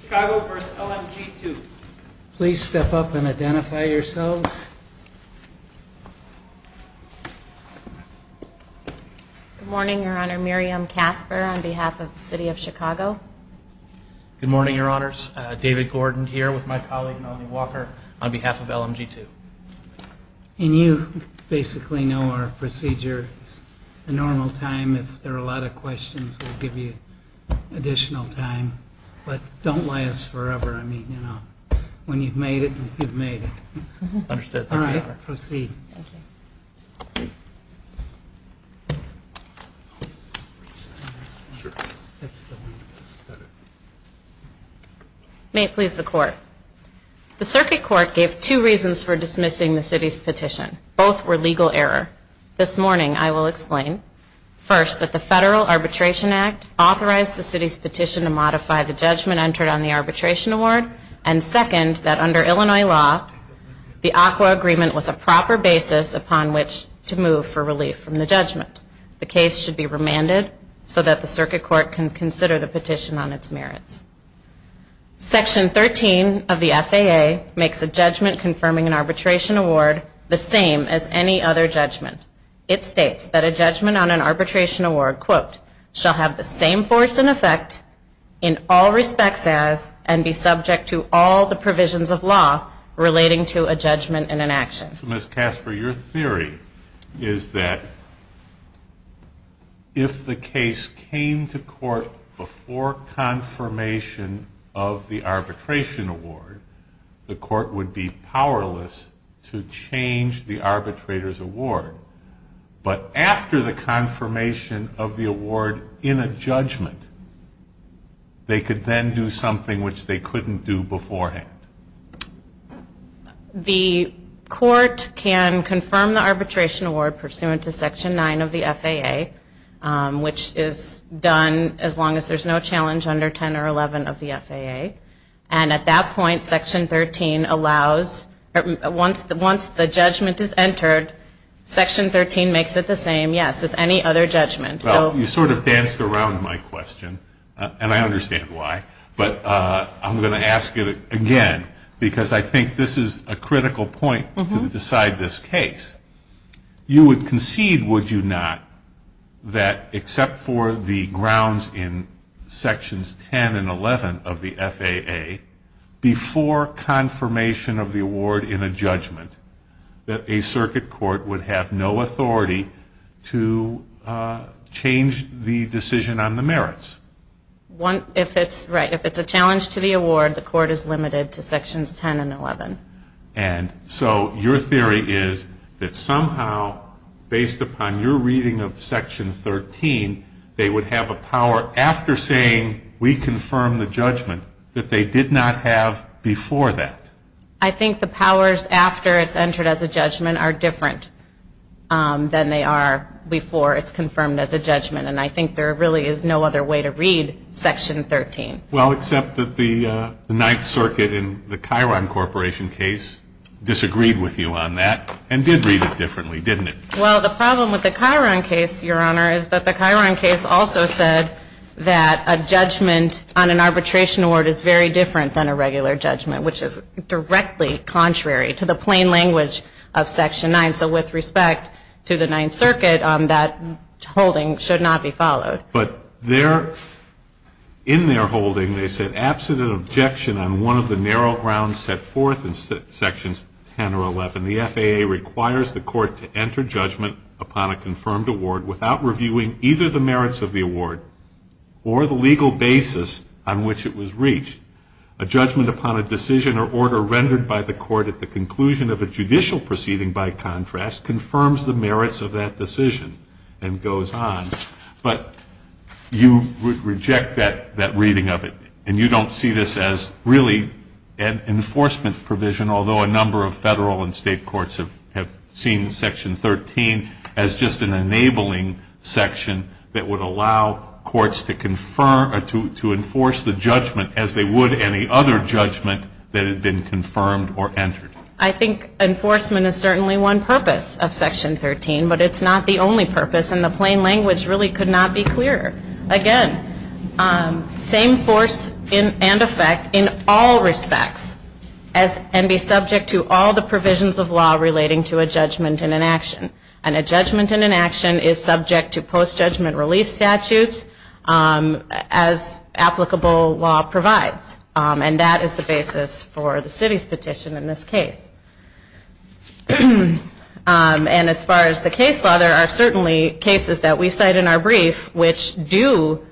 Chicago v. LMG2 Please step up and identify yourselves. Good morning, Your Honor. Miriam Casper on behalf of the City of Chicago. Good morning, Your Honors. David Gordon here with my colleague Melanie Walker on behalf of LMG2. And you basically know our procedure. It's a normal time. If there are a lot of questions, we'll give you additional time. But don't last forever. I mean, you know, when you've made it, you've made it. Understood. Thank you, Your Honor. All right. Proceed. Thank you. May it please the Court. The Circuit Court gave two reasons for dismissing the City's petition. Both were legal error. This morning, I will explain. First, that the Federal Arbitration Act authorized the City's petition to modify the judgment entered on the arbitration award. And second, that under Illinois law, the ACWA agreement was a proper basis upon which to move for relief from the judgment. The case should be remanded so that the Circuit Court can consider the petition on its merits. Section 13 of the FAA makes a judgment confirming an arbitration award the same as any other judgment. It states that a judgment on an arbitration award, quote, shall have the same force and effect, in all respects as, and be subject to all the provisions of law relating to a judgment and an action. So, Ms. Casper, your theory is that if the case came to court before confirmation of the arbitration award, the court would be powerless to change the arbitrator's award. But after the confirmation of the award in a judgment, they could then do something which they couldn't do beforehand. The court can confirm the arbitration award pursuant to Section 9 of the FAA, which is done as long as there's no challenge under 10 or 11 of the FAA. And at that point, Section 13 allows, once the judgment is entered, Section 13 makes it the same, yes, as any other judgment. Well, you sort of danced around my question, and I understand why. But I'm going to ask it again, because I think this is a critical point to decide this case. You would concede, would you not, that except for the grounds in Sections 10 and 11 of the FAA, before confirmation of the award in a judgment, that a circuit court would have no authority to change the decision on the merits? Right, if it's a challenge to the award, the court is limited to Sections 10 and 11. And so your theory is that somehow, based upon your reading of Section 13, they would have a power after saying, we confirm the judgment, that they did not have before that. I think the powers after it's entered as a judgment are different than they are before it's confirmed as a judgment. And I think there really is no other way to read Section 13. Well, except that the Ninth Circuit in the Chiron Corporation case disagreed with you on that and did read it differently, didn't it? Well, the problem with the Chiron case, Your Honor, is that the Chiron case also said that a judgment on an arbitration award is very different than a regular judgment, which is directly contrary to the plain language of Section 9. So with respect to the Ninth Circuit, that holding should not be followed. But in their holding, they said, Absent an objection on one of the narrow grounds set forth in Sections 10 or 11, the FAA requires the court to enter judgment upon a confirmed award without reviewing either the merits of the award or the legal basis on which it was reached. A judgment upon a decision or order rendered by the court at the conclusion of a judicial proceeding, by contrast, confirms the merits of that decision and goes on. But you reject that reading of it. And you don't see this as really an enforcement provision, although a number of federal and state courts have seen Section 13 as just an enabling section that would allow courts to enforce the judgment as they would any other judgment that had been confirmed or entered. I think enforcement is certainly one purpose of Section 13, but it's not the only purpose. And the plain language really could not be clearer. Again, same force and effect in all respects, and be subject to all the provisions of law relating to a judgment and an action. And a judgment and an action is subject to post-judgment relief statutes as applicable law provides. And that is the basis for the city's petition in this case. And as far as the case law, there are certainly cases that we cite in our brief which do,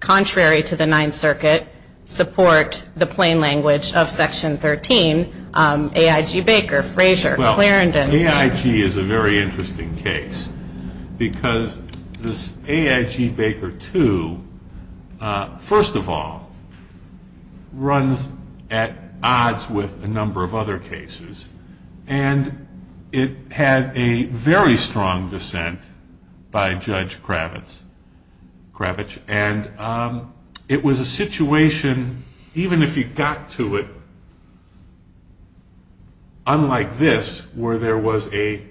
contrary to the Ninth Circuit, support the plain language of Section 13. AIG Baker, Frazier, Clarendon. Well, AIG is a very interesting case because this AIG Baker II, first of all, runs at odds with a number of other cases. And it had a very strong dissent by Judge Kravitz. And it was a situation, even if you got to it unlike this, where there was a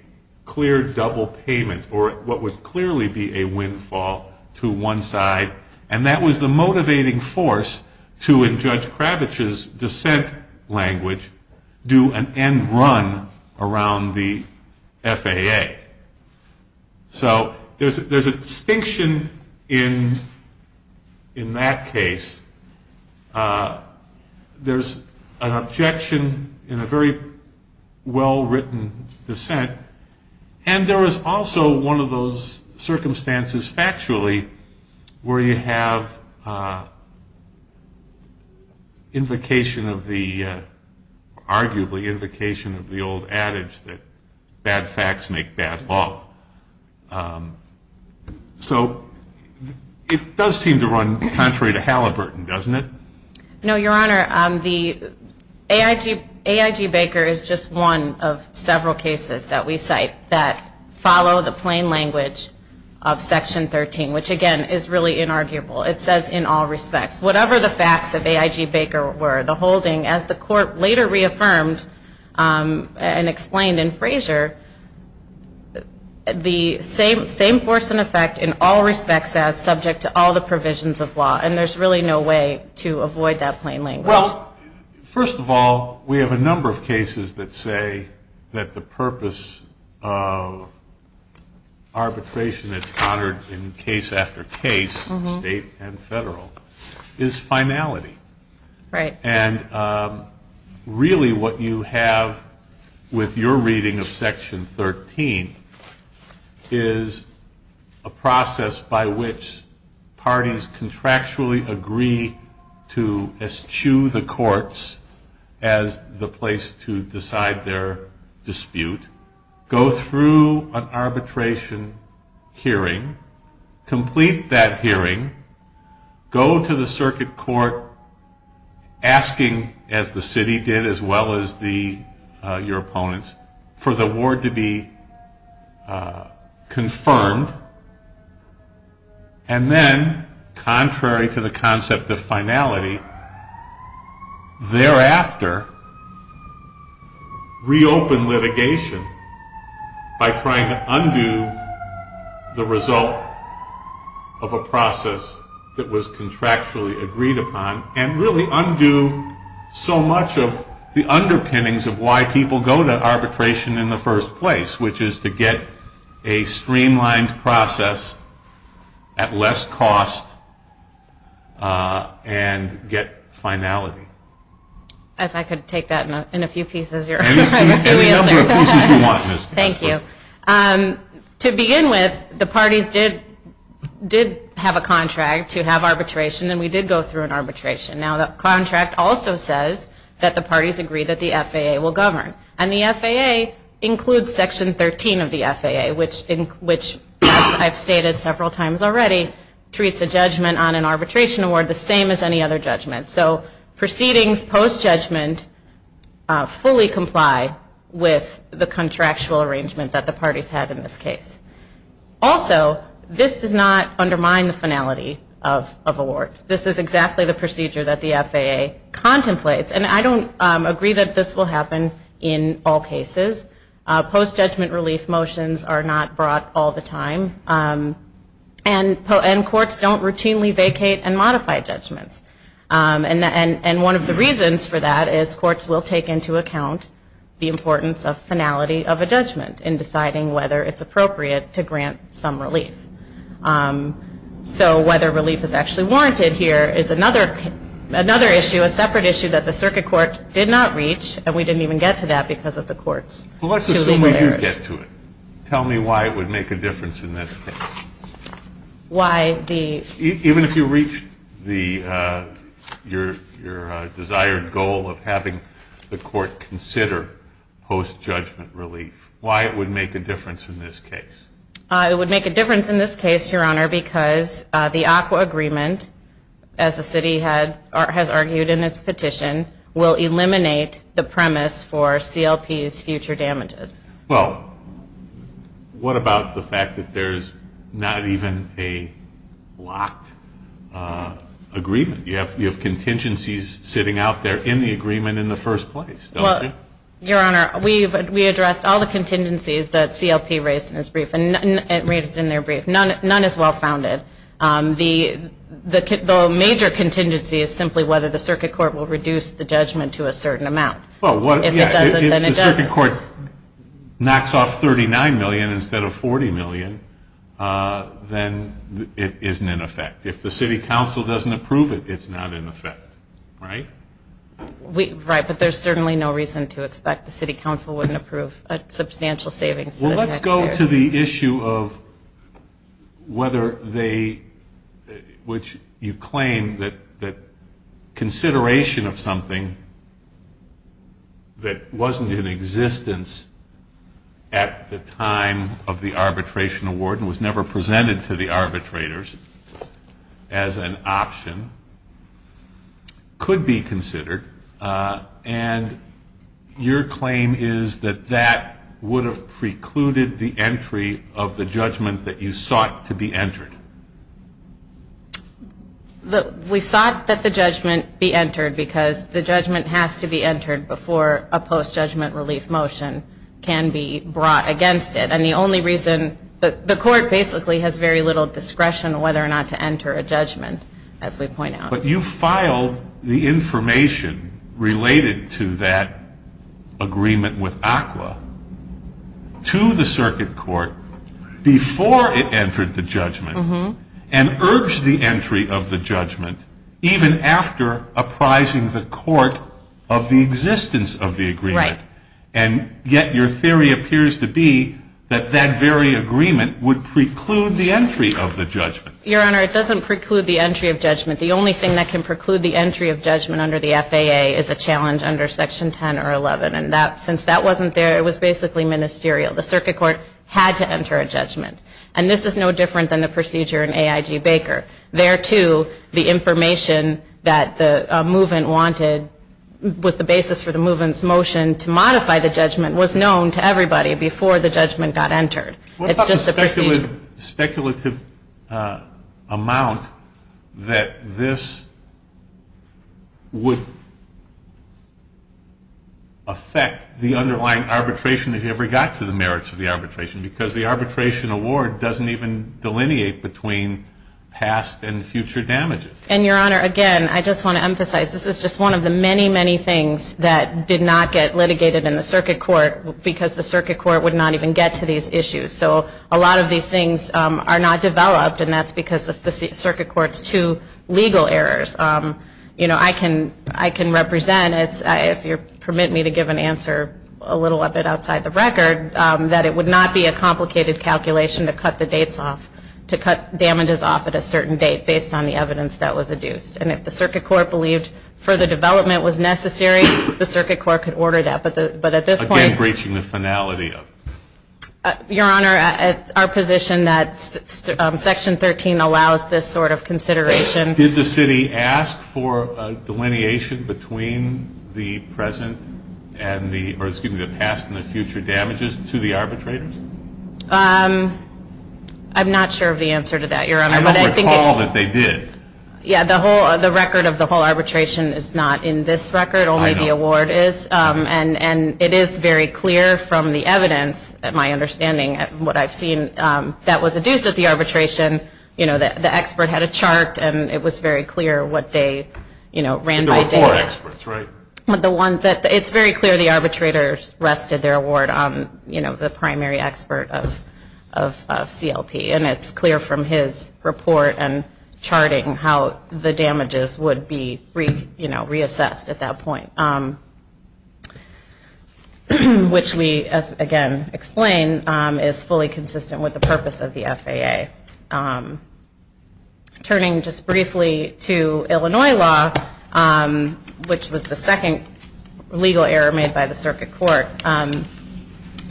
clear double payment or what would clearly be a windfall to one side. And that was the motivating force to, in Judge Kravitz's dissent language, do an end run around the FAA. So there's a distinction in that case. There's an objection in a very well-written dissent. And there was also one of those circumstances, factually, where you have invocation of the old adage that bad facts make bad law. So it does seem to run contrary to Halliburton, doesn't it? No, Your Honor. AIG Baker is just one of several cases that we cite that follow the plain language of Section 13, which, again, is really inarguable. It says in all respects, whatever the facts of AIG Baker were, the holding, as the Court later reaffirmed and explained in Frazier, the same force and effect in all respects as subject to all the provisions of law. And there's really no way to avoid that plain language. Well, first of all, we have a number of cases that say that the purpose of arbitration that's honored in case after case, state and federal, is finality. Right. And really what you have with your reading of Section 13 is a process by which parties contractually agree to eschew the courts as the place to decide their dispute, go through an arbitration hearing, complete that hearing, go to the circuit court asking, as the city did as well as your opponents, for the award to be confirmed, and then, contrary to the concept of finality, thereafter, reopen litigation by trying to undo the result of a process that was contractually agreed upon and really undo so much of the underpinnings of why people go to arbitration in the first place, which is to get a streamlined process at less cost and get finality. If I could take that in a few pieces, you're right. Any number of pieces you want. Thank you. To begin with, the parties did have a contract to have arbitration, and we did go through an arbitration. Now, that contract also says that the parties agree that the FAA will govern. And the FAA includes Section 13 of the FAA, which, as I've stated several times already, treats a judgment on an arbitration award the same as any other judgment. So proceedings post-judgment fully comply with the contractual arrangement that the parties had in this case. Also, this does not undermine the finality of awards. This is exactly the procedure that the FAA contemplates. And I don't agree that this will happen in all cases. Post-judgment relief motions are not brought all the time. And courts don't routinely vacate and modify judgments. And one of the reasons for that is courts will take into account the importance of finality of a judgment in deciding whether it's appropriate to grant some relief. So whether relief is actually warranted here is another issue, a separate issue that the circuit court did not reach, and we didn't even get to that because of the court's two legal errors. Well, let's assume we did get to it. Tell me why it would make a difference in this case. Why the… Even if you reached your desired goal of having the court consider post-judgment relief, why it would make a difference in this case. It would make a difference in this case, Your Honor, because the ACWA agreement, as the city has argued in its petition, will eliminate the premise for CLP's future damages. Well, what about the fact that there's not even a locked agreement? You have contingencies sitting out there in the agreement in the first place, don't you? Your Honor, we addressed all the contingencies that CLP raised in their brief. None is well-founded. The major contingency is simply whether the circuit court will reduce the judgment to a certain amount. If it doesn't, then it doesn't. If the circuit court knocks off $39 million instead of $40 million, then it isn't in effect. If the city council doesn't approve it, it's not in effect, right? Right, but there's certainly no reason to expect the city council wouldn't approve a substantial savings. Well, let's go to the issue of whether they – which you claim that consideration of something that wasn't in existence at the time of the arbitration award and was never presented to the arbitrators as an option could be considered. And your claim is that that would have precluded the entry of the judgment that you sought to be entered. We sought that the judgment be entered because the judgment has to be entered before a post-judgment relief motion can be brought against it. And the only reason – the court basically has very little discretion whether or not to enter a judgment, as we point out. But you filed the information related to that agreement with ACWA to the circuit court before it entered the judgment and urged the entry of the judgment even after apprising the court of the existence of the agreement. Right. And yet your theory appears to be that that very agreement would preclude the entry of the judgment. Your Honor, it doesn't preclude the entry of judgment. The only thing that can preclude the entry of judgment under the FAA is a challenge under Section 10 or 11. And since that wasn't there, it was basically ministerial. The circuit court had to enter a judgment. And this is no different than the procedure in AIG Baker. There, too, the information that the movement wanted was the basis for the movement's motion to modify the judgment was known to everybody before the judgment got entered. It's just a procedure. What about the speculative amount that this would affect the underlying arbitration if you ever got to the merits of the arbitration? Because the arbitration award doesn't even delineate between past and future damages. And, Your Honor, again, I just want to emphasize this is just one of the many, many things that did not get litigated in the circuit court because the circuit court would not even get to these issues. So a lot of these things are not developed, and that's because of the circuit court's two legal errors. You know, I can represent, if you'll permit me to give an answer a little of it outside the record, that it would not be a complicated calculation to cut the dates off, to cut damages off at a certain date based on the evidence that was adduced. And if the circuit court believed further development was necessary, the circuit court could order that. But at this point ñ Again, breaching the finality of it. Your Honor, it's our position that Section 13 allows this sort of consideration. Did the city ask for a delineation between the present and the ñ or, excuse me, the past and the future damages to the arbitrators? I'm not sure of the answer to that, Your Honor. I don't recall that they did. Yeah, the whole ñ the record of the whole arbitration is not in this record. I know. Only the award is. And it is very clear from the evidence, my understanding, what I've seen, that was adduced at the arbitration. You know, the expert had a chart, and it was very clear what they, you know, ran by date. There were four experts, right? The one that ñ it's very clear the arbitrators rested their award on, you know, the primary expert of CLP. And it's clear from his report and charting how the damages would be, you know, reassessed at that point. Which we, again, explain is fully consistent with the purpose of the FAA. Turning just briefly to Illinois law, which was the second legal error made by the circuit court,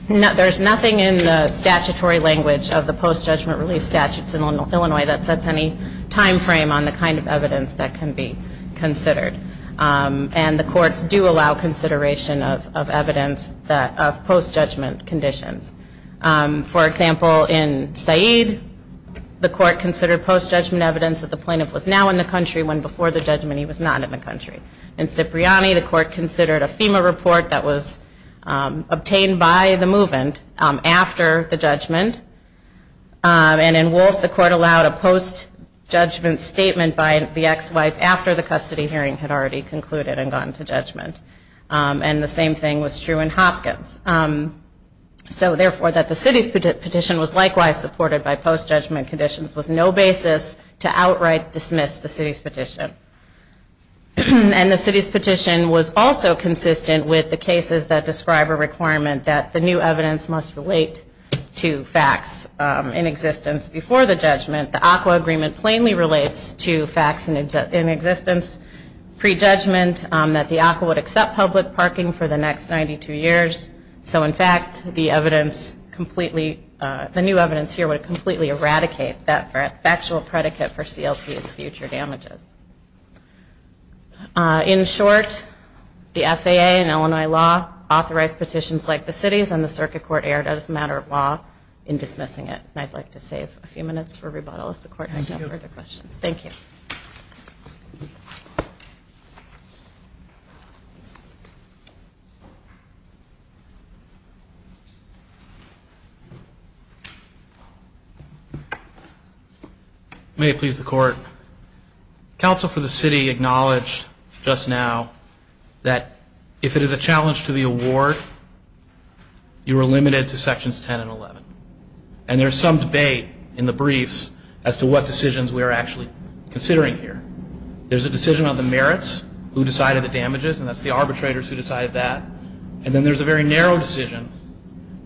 there's nothing in the statutory language of the post-judgment relief statutes in Illinois that sets any time frame on the kind of evidence that can be considered. And the courts do allow consideration of evidence of post-judgment conditions. For example, in Said, the court considered post-judgment evidence that the plaintiff was now in the country when before the judgment he was not in the country. In Cipriani, the court considered a FEMA report that was obtained by the movement after the judgment. And in Wolfe, the court allowed a post-judgment statement by the ex-wife after the custody hearing had already concluded and gone to judgment. And the same thing was true in Hopkins. So, therefore, that the city's petition was likewise supported by post-judgment conditions was no basis to outright dismiss the city's petition. And the city's petition was also consistent with the cases that describe a requirement that the new evidence must relate to facts in existence before the judgment. The ACWA agreement plainly relates to facts in existence pre-judgment that the ACWA would accept public parking for the next 92 years. So, in fact, the new evidence here would completely eradicate that factual predicate for CLP's future damages. In short, the FAA and Illinois law authorized petitions like the city's and the circuit court erred as a matter of law in dismissing it. And I'd like to save a few minutes for rebuttal if the court has no further questions. Thank you. Thank you. May it please the court. Counsel for the city acknowledged just now that if it is a challenge to the award, you are limited to sections 10 and 11. And there's some debate in the briefs as to what decisions we are actually considering here. There's a decision on the merits, who decided the damages, and that's the arbitrators who decided that. And then there's a very narrow decision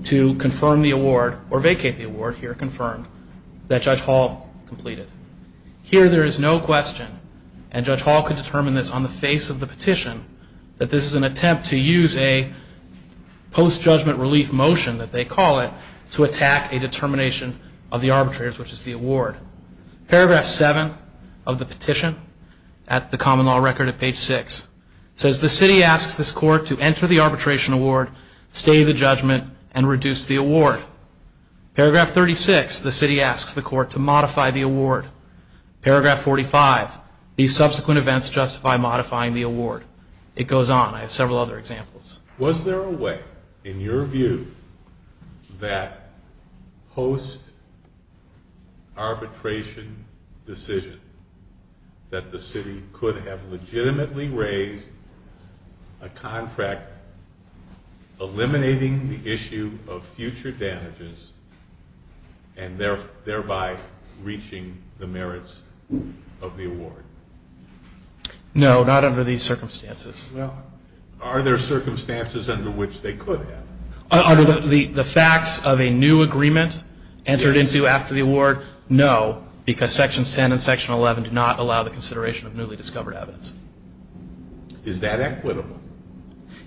to confirm the award or vacate the award here confirmed that Judge Hall completed. Here there is no question, and Judge Hall could determine this on the face of the petition, that this is an attempt to use a post-judgment relief motion, that they call it, to attack a determination of the arbitrators, which is the award. Paragraph 7 of the petition at the common law record at page 6 says, the city asks this court to enter the arbitration award, stay the judgment, and reduce the award. Paragraph 36, the city asks the court to modify the award. Paragraph 45, these subsequent events justify modifying the award. It goes on. I have several other examples. Was there a way, in your view, that post-arbitration decision that the city could have legitimately raised a contract eliminating the issue of future damages and thereby reaching the merits of the award? No, not under these circumstances. Well, are there circumstances under which they could have? Under the facts of a new agreement entered into after the award, no, because sections 10 and section 11 do not allow the consideration of newly discovered evidence. Is that equitable?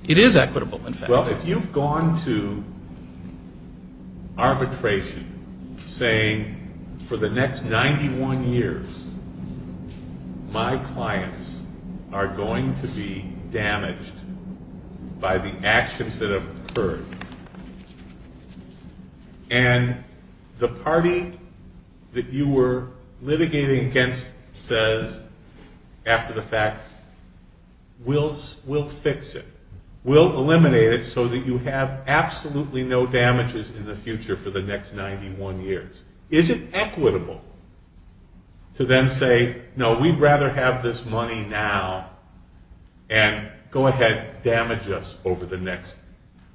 It is equitable, in fact. Well, if you've gone to arbitration saying, for the next 91 years, my clients are going to be damaged by the actions that have occurred, and the party that you were litigating against says, after the fact, we'll fix it, we'll eliminate it so that you have absolutely no damages in the future for the next 91 years, is it equitable to then say, no, we'd rather have this money now and go ahead, damage us over the next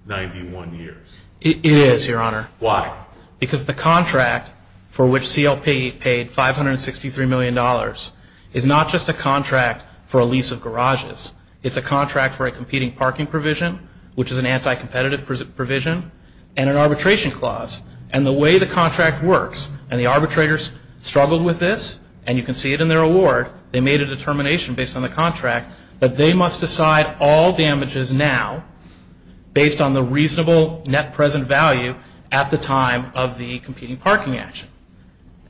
91 years? It is, Your Honor. Why? Because the contract for which CLP paid $563 million is not just a contract for a lease of garages. It's a contract for a competing parking provision, which is an anti-competitive provision, and an arbitration clause. And the way the contract works, and the arbitrators struggled with this, and you can see it in their award, they made a determination based on the contract that they must decide all damages now based on the reasonable net present value at the time of the competing parking action.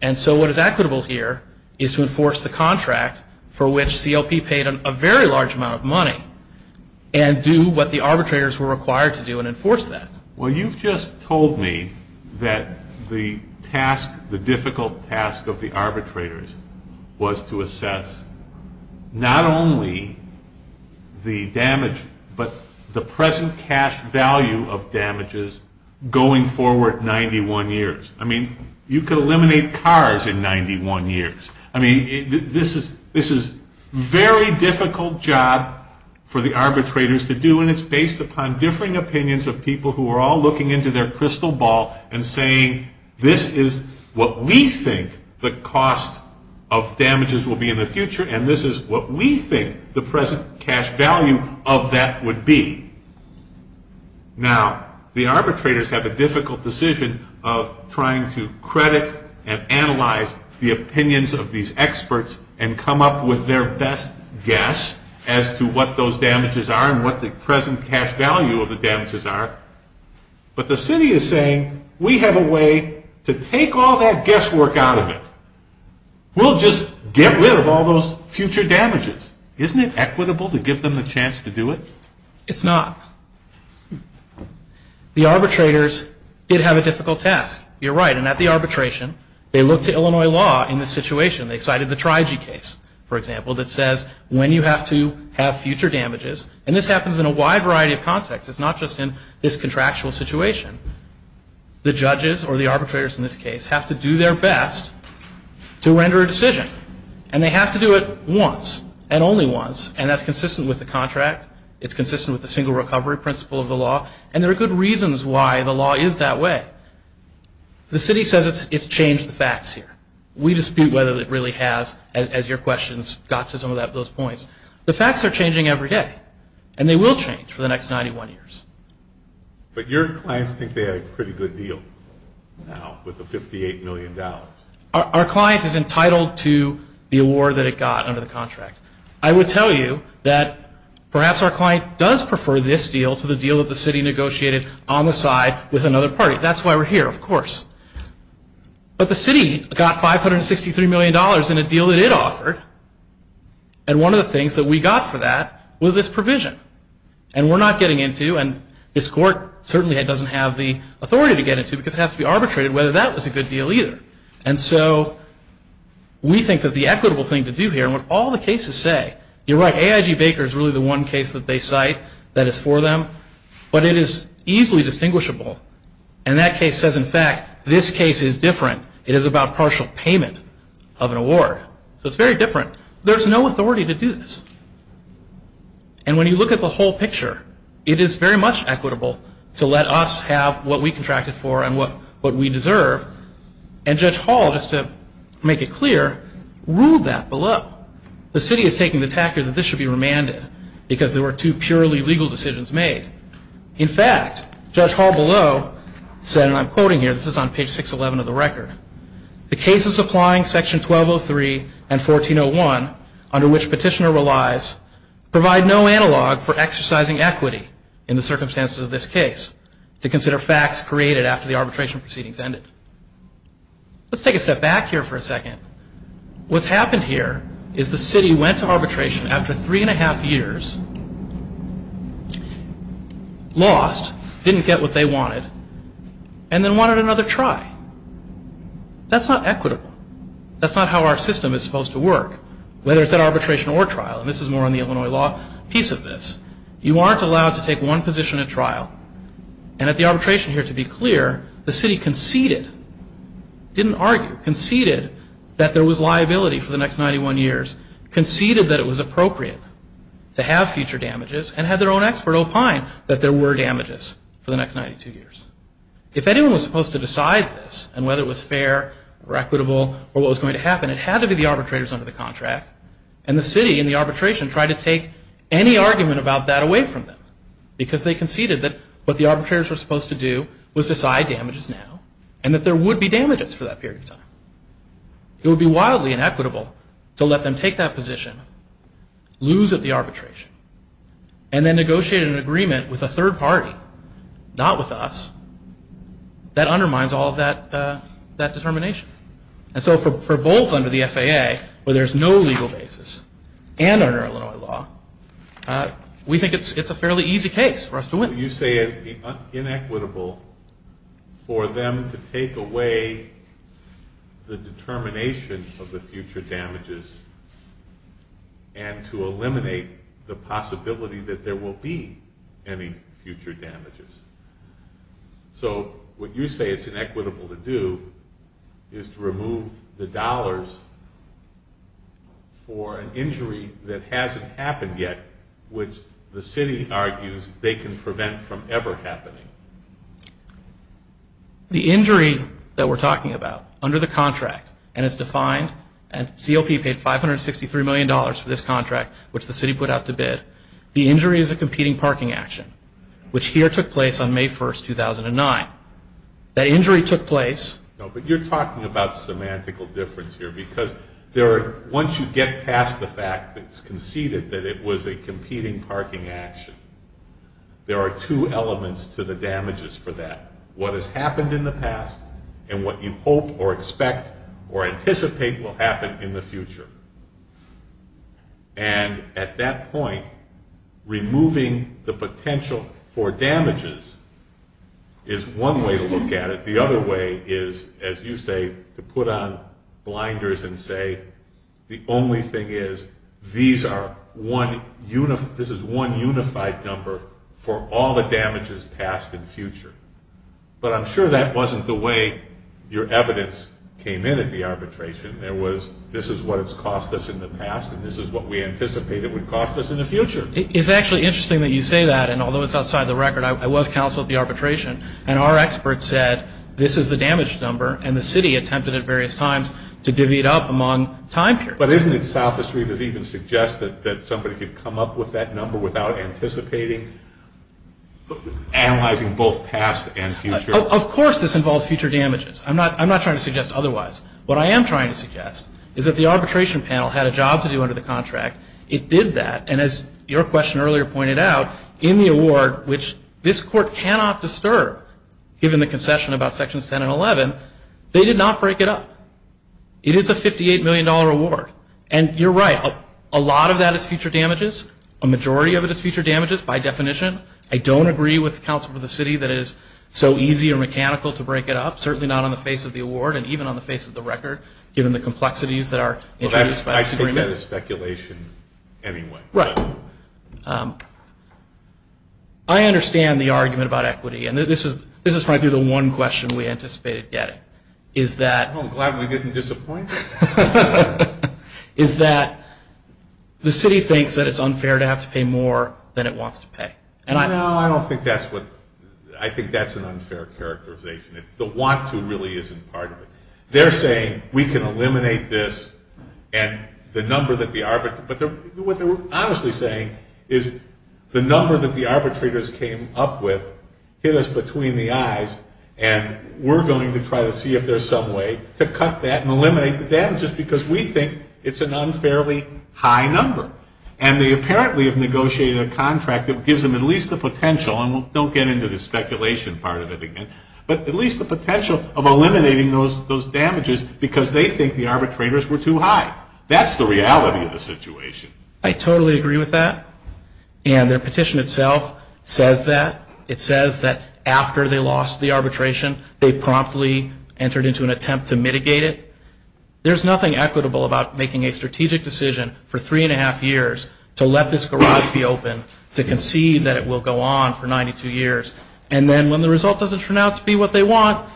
And so what is equitable here is to enforce the contract for which CLP paid a very large amount of money and do what the arbitrators were required to do and enforce that. Well, you've just told me that the task, the difficult task of the arbitrators, was to assess not only the damage, but the present cash value of damages going forward 91 years. I mean, you could eliminate cars in 91 years. I mean, this is a very difficult job for the arbitrators to do, and it's based upon differing opinions of people who are all looking into their crystal ball and saying this is what we think the cost of damages will be in the future, and this is what we think the present cash value of that would be. Now, the arbitrators have a difficult decision of trying to credit and analyze the opinions of these experts and come up with their best guess as to what those damages are and what the present cash value of the damages are, but the city is saying we have a way to take all that guesswork out of it. We'll just get rid of all those future damages. Isn't it equitable to give them a chance to do it? It's not. The arbitrators did have a difficult task. You're right, and at the arbitration, they looked to Illinois law in this situation. They cited the Trigee case, for example, that says when you have to have future damages, and this happens in a wide variety of contexts. It's not just in this contractual situation. The judges or the arbitrators in this case have to do their best to render a decision, and they have to do it once and only once, and that's consistent with the contract. It's consistent with the single recovery principle of the law, and there are good reasons why the law is that way. The city says it's changed the facts here. We dispute whether it really has, as your questions got to some of those points. The facts are changing every day, and they will change for the next 91 years. But your clients think they had a pretty good deal now with the $58 million. Our client is entitled to the award that it got under the contract. I would tell you that perhaps our client does prefer this deal to the deal that the city negotiated on the side with another party. That's why we're here, of course. But the city got $563 million in a deal that it offered, and one of the things that we got for that was this provision. And we're not getting into, and this court certainly doesn't have the authority to get into because it has to be arbitrated whether that was a good deal either. And so we think that the equitable thing to do here, and what all the cases say, you're right, AIG Baker is really the one case that they cite that is for them, but it is easily distinguishable. And that case says, in fact, this case is different. It is about partial payment of an award. So it's very different. There's no authority to do this. And when you look at the whole picture, it is very much equitable to let us have what we contracted for and what we deserve. And Judge Hall, just to make it clear, ruled that below. The city is taking the tactic that this should be remanded because there were two purely legal decisions made. In fact, Judge Hall below said, and I'm quoting here, this is on page 611 of the record, the cases applying section 1203 and 1401, under which petitioner relies, provide no analog for exercising equity in the circumstances of this case to consider facts created after the arbitration proceedings ended. Let's take a step back here for a second. What's happened here is the city went to arbitration after three and a half years, lost, didn't get what they wanted, and then wanted another try. That's not equitable. That's not how our system is supposed to work, whether it's at arbitration or trial. And this is more on the Illinois law piece of this. You aren't allowed to take one position at trial. And at the arbitration here, to be clear, the city conceded, didn't argue, conceded that there was liability for the next 91 years, conceded that it was appropriate to have future damages, and had their own expert opine that there were damages for the next 92 years. If anyone was supposed to decide this and whether it was fair or equitable or what was going to happen, it had to be the arbitrators under the contract. And the city in the arbitration tried to take any argument about that away from them because they conceded that what the arbitrators were supposed to do was decide damages now and that there would be damages for that period of time. It would be wildly inequitable to let them take that position, lose at the arbitration, and then negotiate an agreement with a third party, not with us, that undermines all of that determination. And so for both under the FAA, where there's no legal basis, and under Illinois law, we think it's a fairly easy case for us to win. You say it would be inequitable for them to take away the determination of the future damages and to eliminate the possibility that there will be any future damages. So what you say it's inequitable to do is to remove the dollars for an injury that hasn't happened yet, which the city argues they can prevent from ever happening. The injury that we're talking about under the contract, and it's defined, and CLP paid $563 million for this contract, which the city put out to bid, the injury is a competing parking action, which here took place on May 1, 2009. That injury took place... No, but you're talking about semantical difference here, because once you get past the fact that it's conceded that it was a competing parking action, there are two elements to the damages for that. What has happened in the past and what you hope or expect or anticipate will happen in the future. And at that point, removing the potential for damages is one way to look at it. The other way is, as you say, to put on blinders and say, the only thing is this is one unified number for all the damages past and future. But I'm sure that wasn't the way your evidence came in at the arbitration. There was, this is what it's cost us in the past, and this is what we anticipate it would cost us in the future. It's actually interesting that you say that, and although it's outside the record, I was counsel at the arbitration, and our expert said, this is the damage number, and the city attempted at various times to divvy it up among time periods. But isn't it selfish for you to even suggest that somebody could come up with that number without anticipating, analyzing both past and future? Of course this involves future damages. I'm not trying to suggest otherwise. What I am trying to suggest is that the arbitration panel had a job to do under the contract. It did that, and as your question earlier pointed out, in the award, which this court cannot disturb given the concession about Sections 10 and 11, they did not break it up. It is a $58 million award. And you're right, a lot of that is future damages. A majority of it is future damages by definition. I don't agree with the Council of the City that it is so easy or mechanical to break it up, certainly not on the face of the award and even on the face of the record, given the complexities that are introduced by this agreement. I take that as speculation anyway. Right. I understand the argument about equity, and this is frankly the one question we anticipated getting. I'm glad we didn't disappoint. Is that the city thinks that it's unfair to have to pay more than it wants to pay. No, I don't think that's what – I think that's an unfair characterization. The want to really isn't part of it. They're saying we can eliminate this, and the number that the – but what they're honestly saying is the number that the arbitrators came up with hit us between the eyes, and we're going to try to see if there's some way to cut that and eliminate the damages because we think it's an unfairly high number. And they apparently have negotiated a contract that gives them at least the potential, and don't get into the speculation part of it again, but at least the potential of eliminating those damages because they think the arbitrators were too high. That's the reality of the situation. I totally agree with that, and their petition itself says that. It says that after they lost the arbitration, they promptly entered into an attempt to mitigate it. There's nothing equitable about making a strategic decision for three and a half years to let this garage be open, to concede that it will go on for 92 years, and then when the result doesn't turn out to be what they want,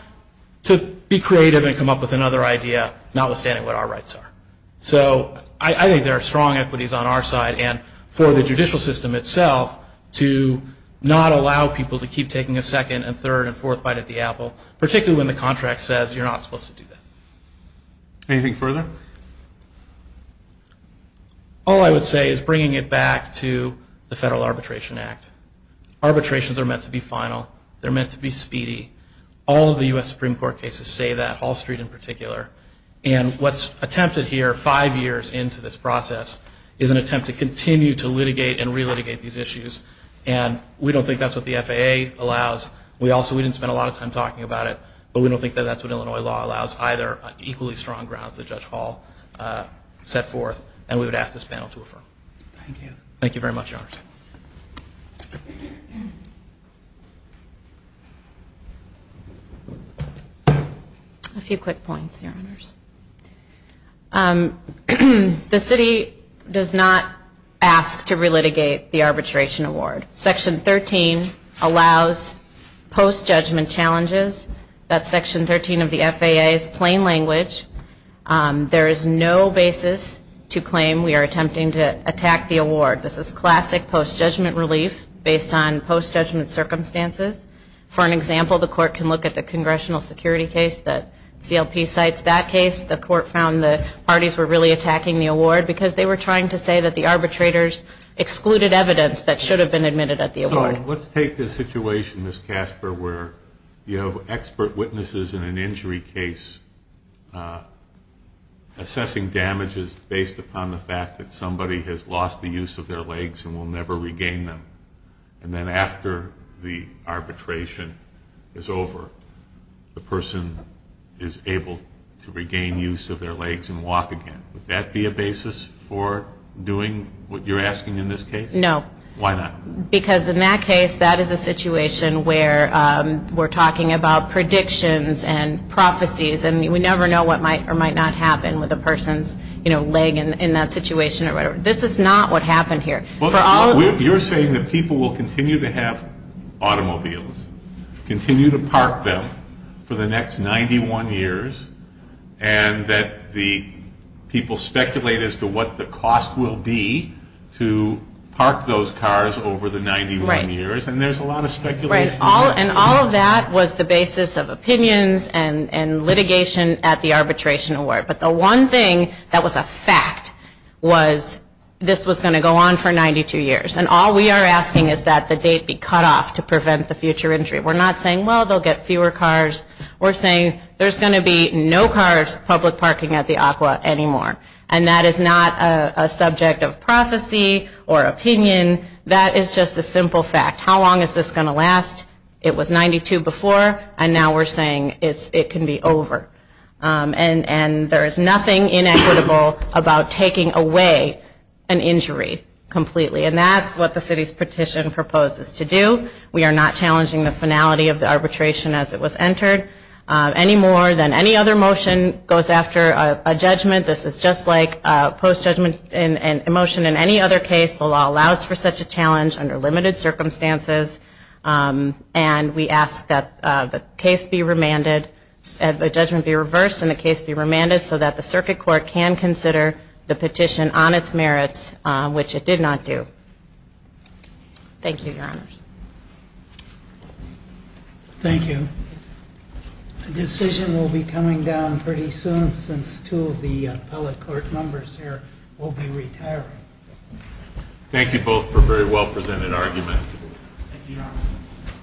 to be creative and come up with another idea, notwithstanding what our rights are. So I think there are strong equities on our side, and for the judicial system itself to not allow people to keep taking a second and third and fourth bite at the apple, particularly when the contract says you're not supposed to do that. Anything further? All I would say is bringing it back to the Federal Arbitration Act. Arbitrations are meant to be final. They're meant to be speedy. All of the U.S. Supreme Court cases say that, Hall Street in particular, and what's attempted here five years into this process is an attempt to continue to litigate and re-litigate these issues, and we don't think that's what the FAA allows. We also didn't spend a lot of time talking about it, but we don't think that that's what Illinois law allows, either equally strong grounds that Judge Hall set forth, and we would ask this panel to affirm. Thank you. Thank you very much, Your Honors. A few quick points, Your Honors. The city does not ask to re-litigate the arbitration award. Section 13 allows post-judgment challenges. That's Section 13 of the FAA's plain language. There is no basis to claim we are attempting to attack the award. This is classic post-judgment relief based on post-judgment circumstances. For an example, the court can look at the congressional security case that CLP cites. That case, the court found the parties were really attacking the award because they were trying to say that the arbitrators excluded evidence that should have been admitted at the award. So let's take the situation, Ms. Casper, where you have expert witnesses in an injury case assessing damages based upon the fact that somebody has lost the use of their legs and will never regain them, and then after the arbitration is over, the person is able to regain use of their legs and walk again. Would that be a basis for doing what you're asking in this case? No. Why not? Because in that case, that is a situation where we're talking about predictions and prophecies, and we never know what might or might not happen with a person's leg in that situation. This is not what happened here. You're saying that people will continue to have automobiles, continue to park them for the next 91 years, and that the people speculate as to what the cost will be to park those cars over the 91 years, and there's a lot of speculation. Right, and all of that was the basis of opinions and litigation at the arbitration award. But the one thing that was a fact was this was going to go on for 92 years, and all we are asking is that the date be cut off to prevent the future injury. We're not saying, well, they'll get fewer cars. We're saying there's going to be no cars public parking at the ACWA anymore, and that is not a subject of prophecy or opinion. That is just a simple fact. How long is this going to last? It was 92 before, and now we're saying it can be over. And there is nothing inequitable about taking away an injury completely, and that's what the city's petition proposes to do. We are not challenging the finality of the arbitration as it was entered. Any more than any other motion goes after a judgment. This is just like a post-judgment motion in any other case. The law allows for such a challenge under limited circumstances, and we ask that the judgment be reversed and the case be remanded so that the circuit court can consider the petition on its merits, which it did not do. Thank you, Your Honors. Thank you. A decision will be coming down pretty soon since two of the appellate court members here will be retiring. Thank you both for a very well-presented argument. Thank you, Your Honors.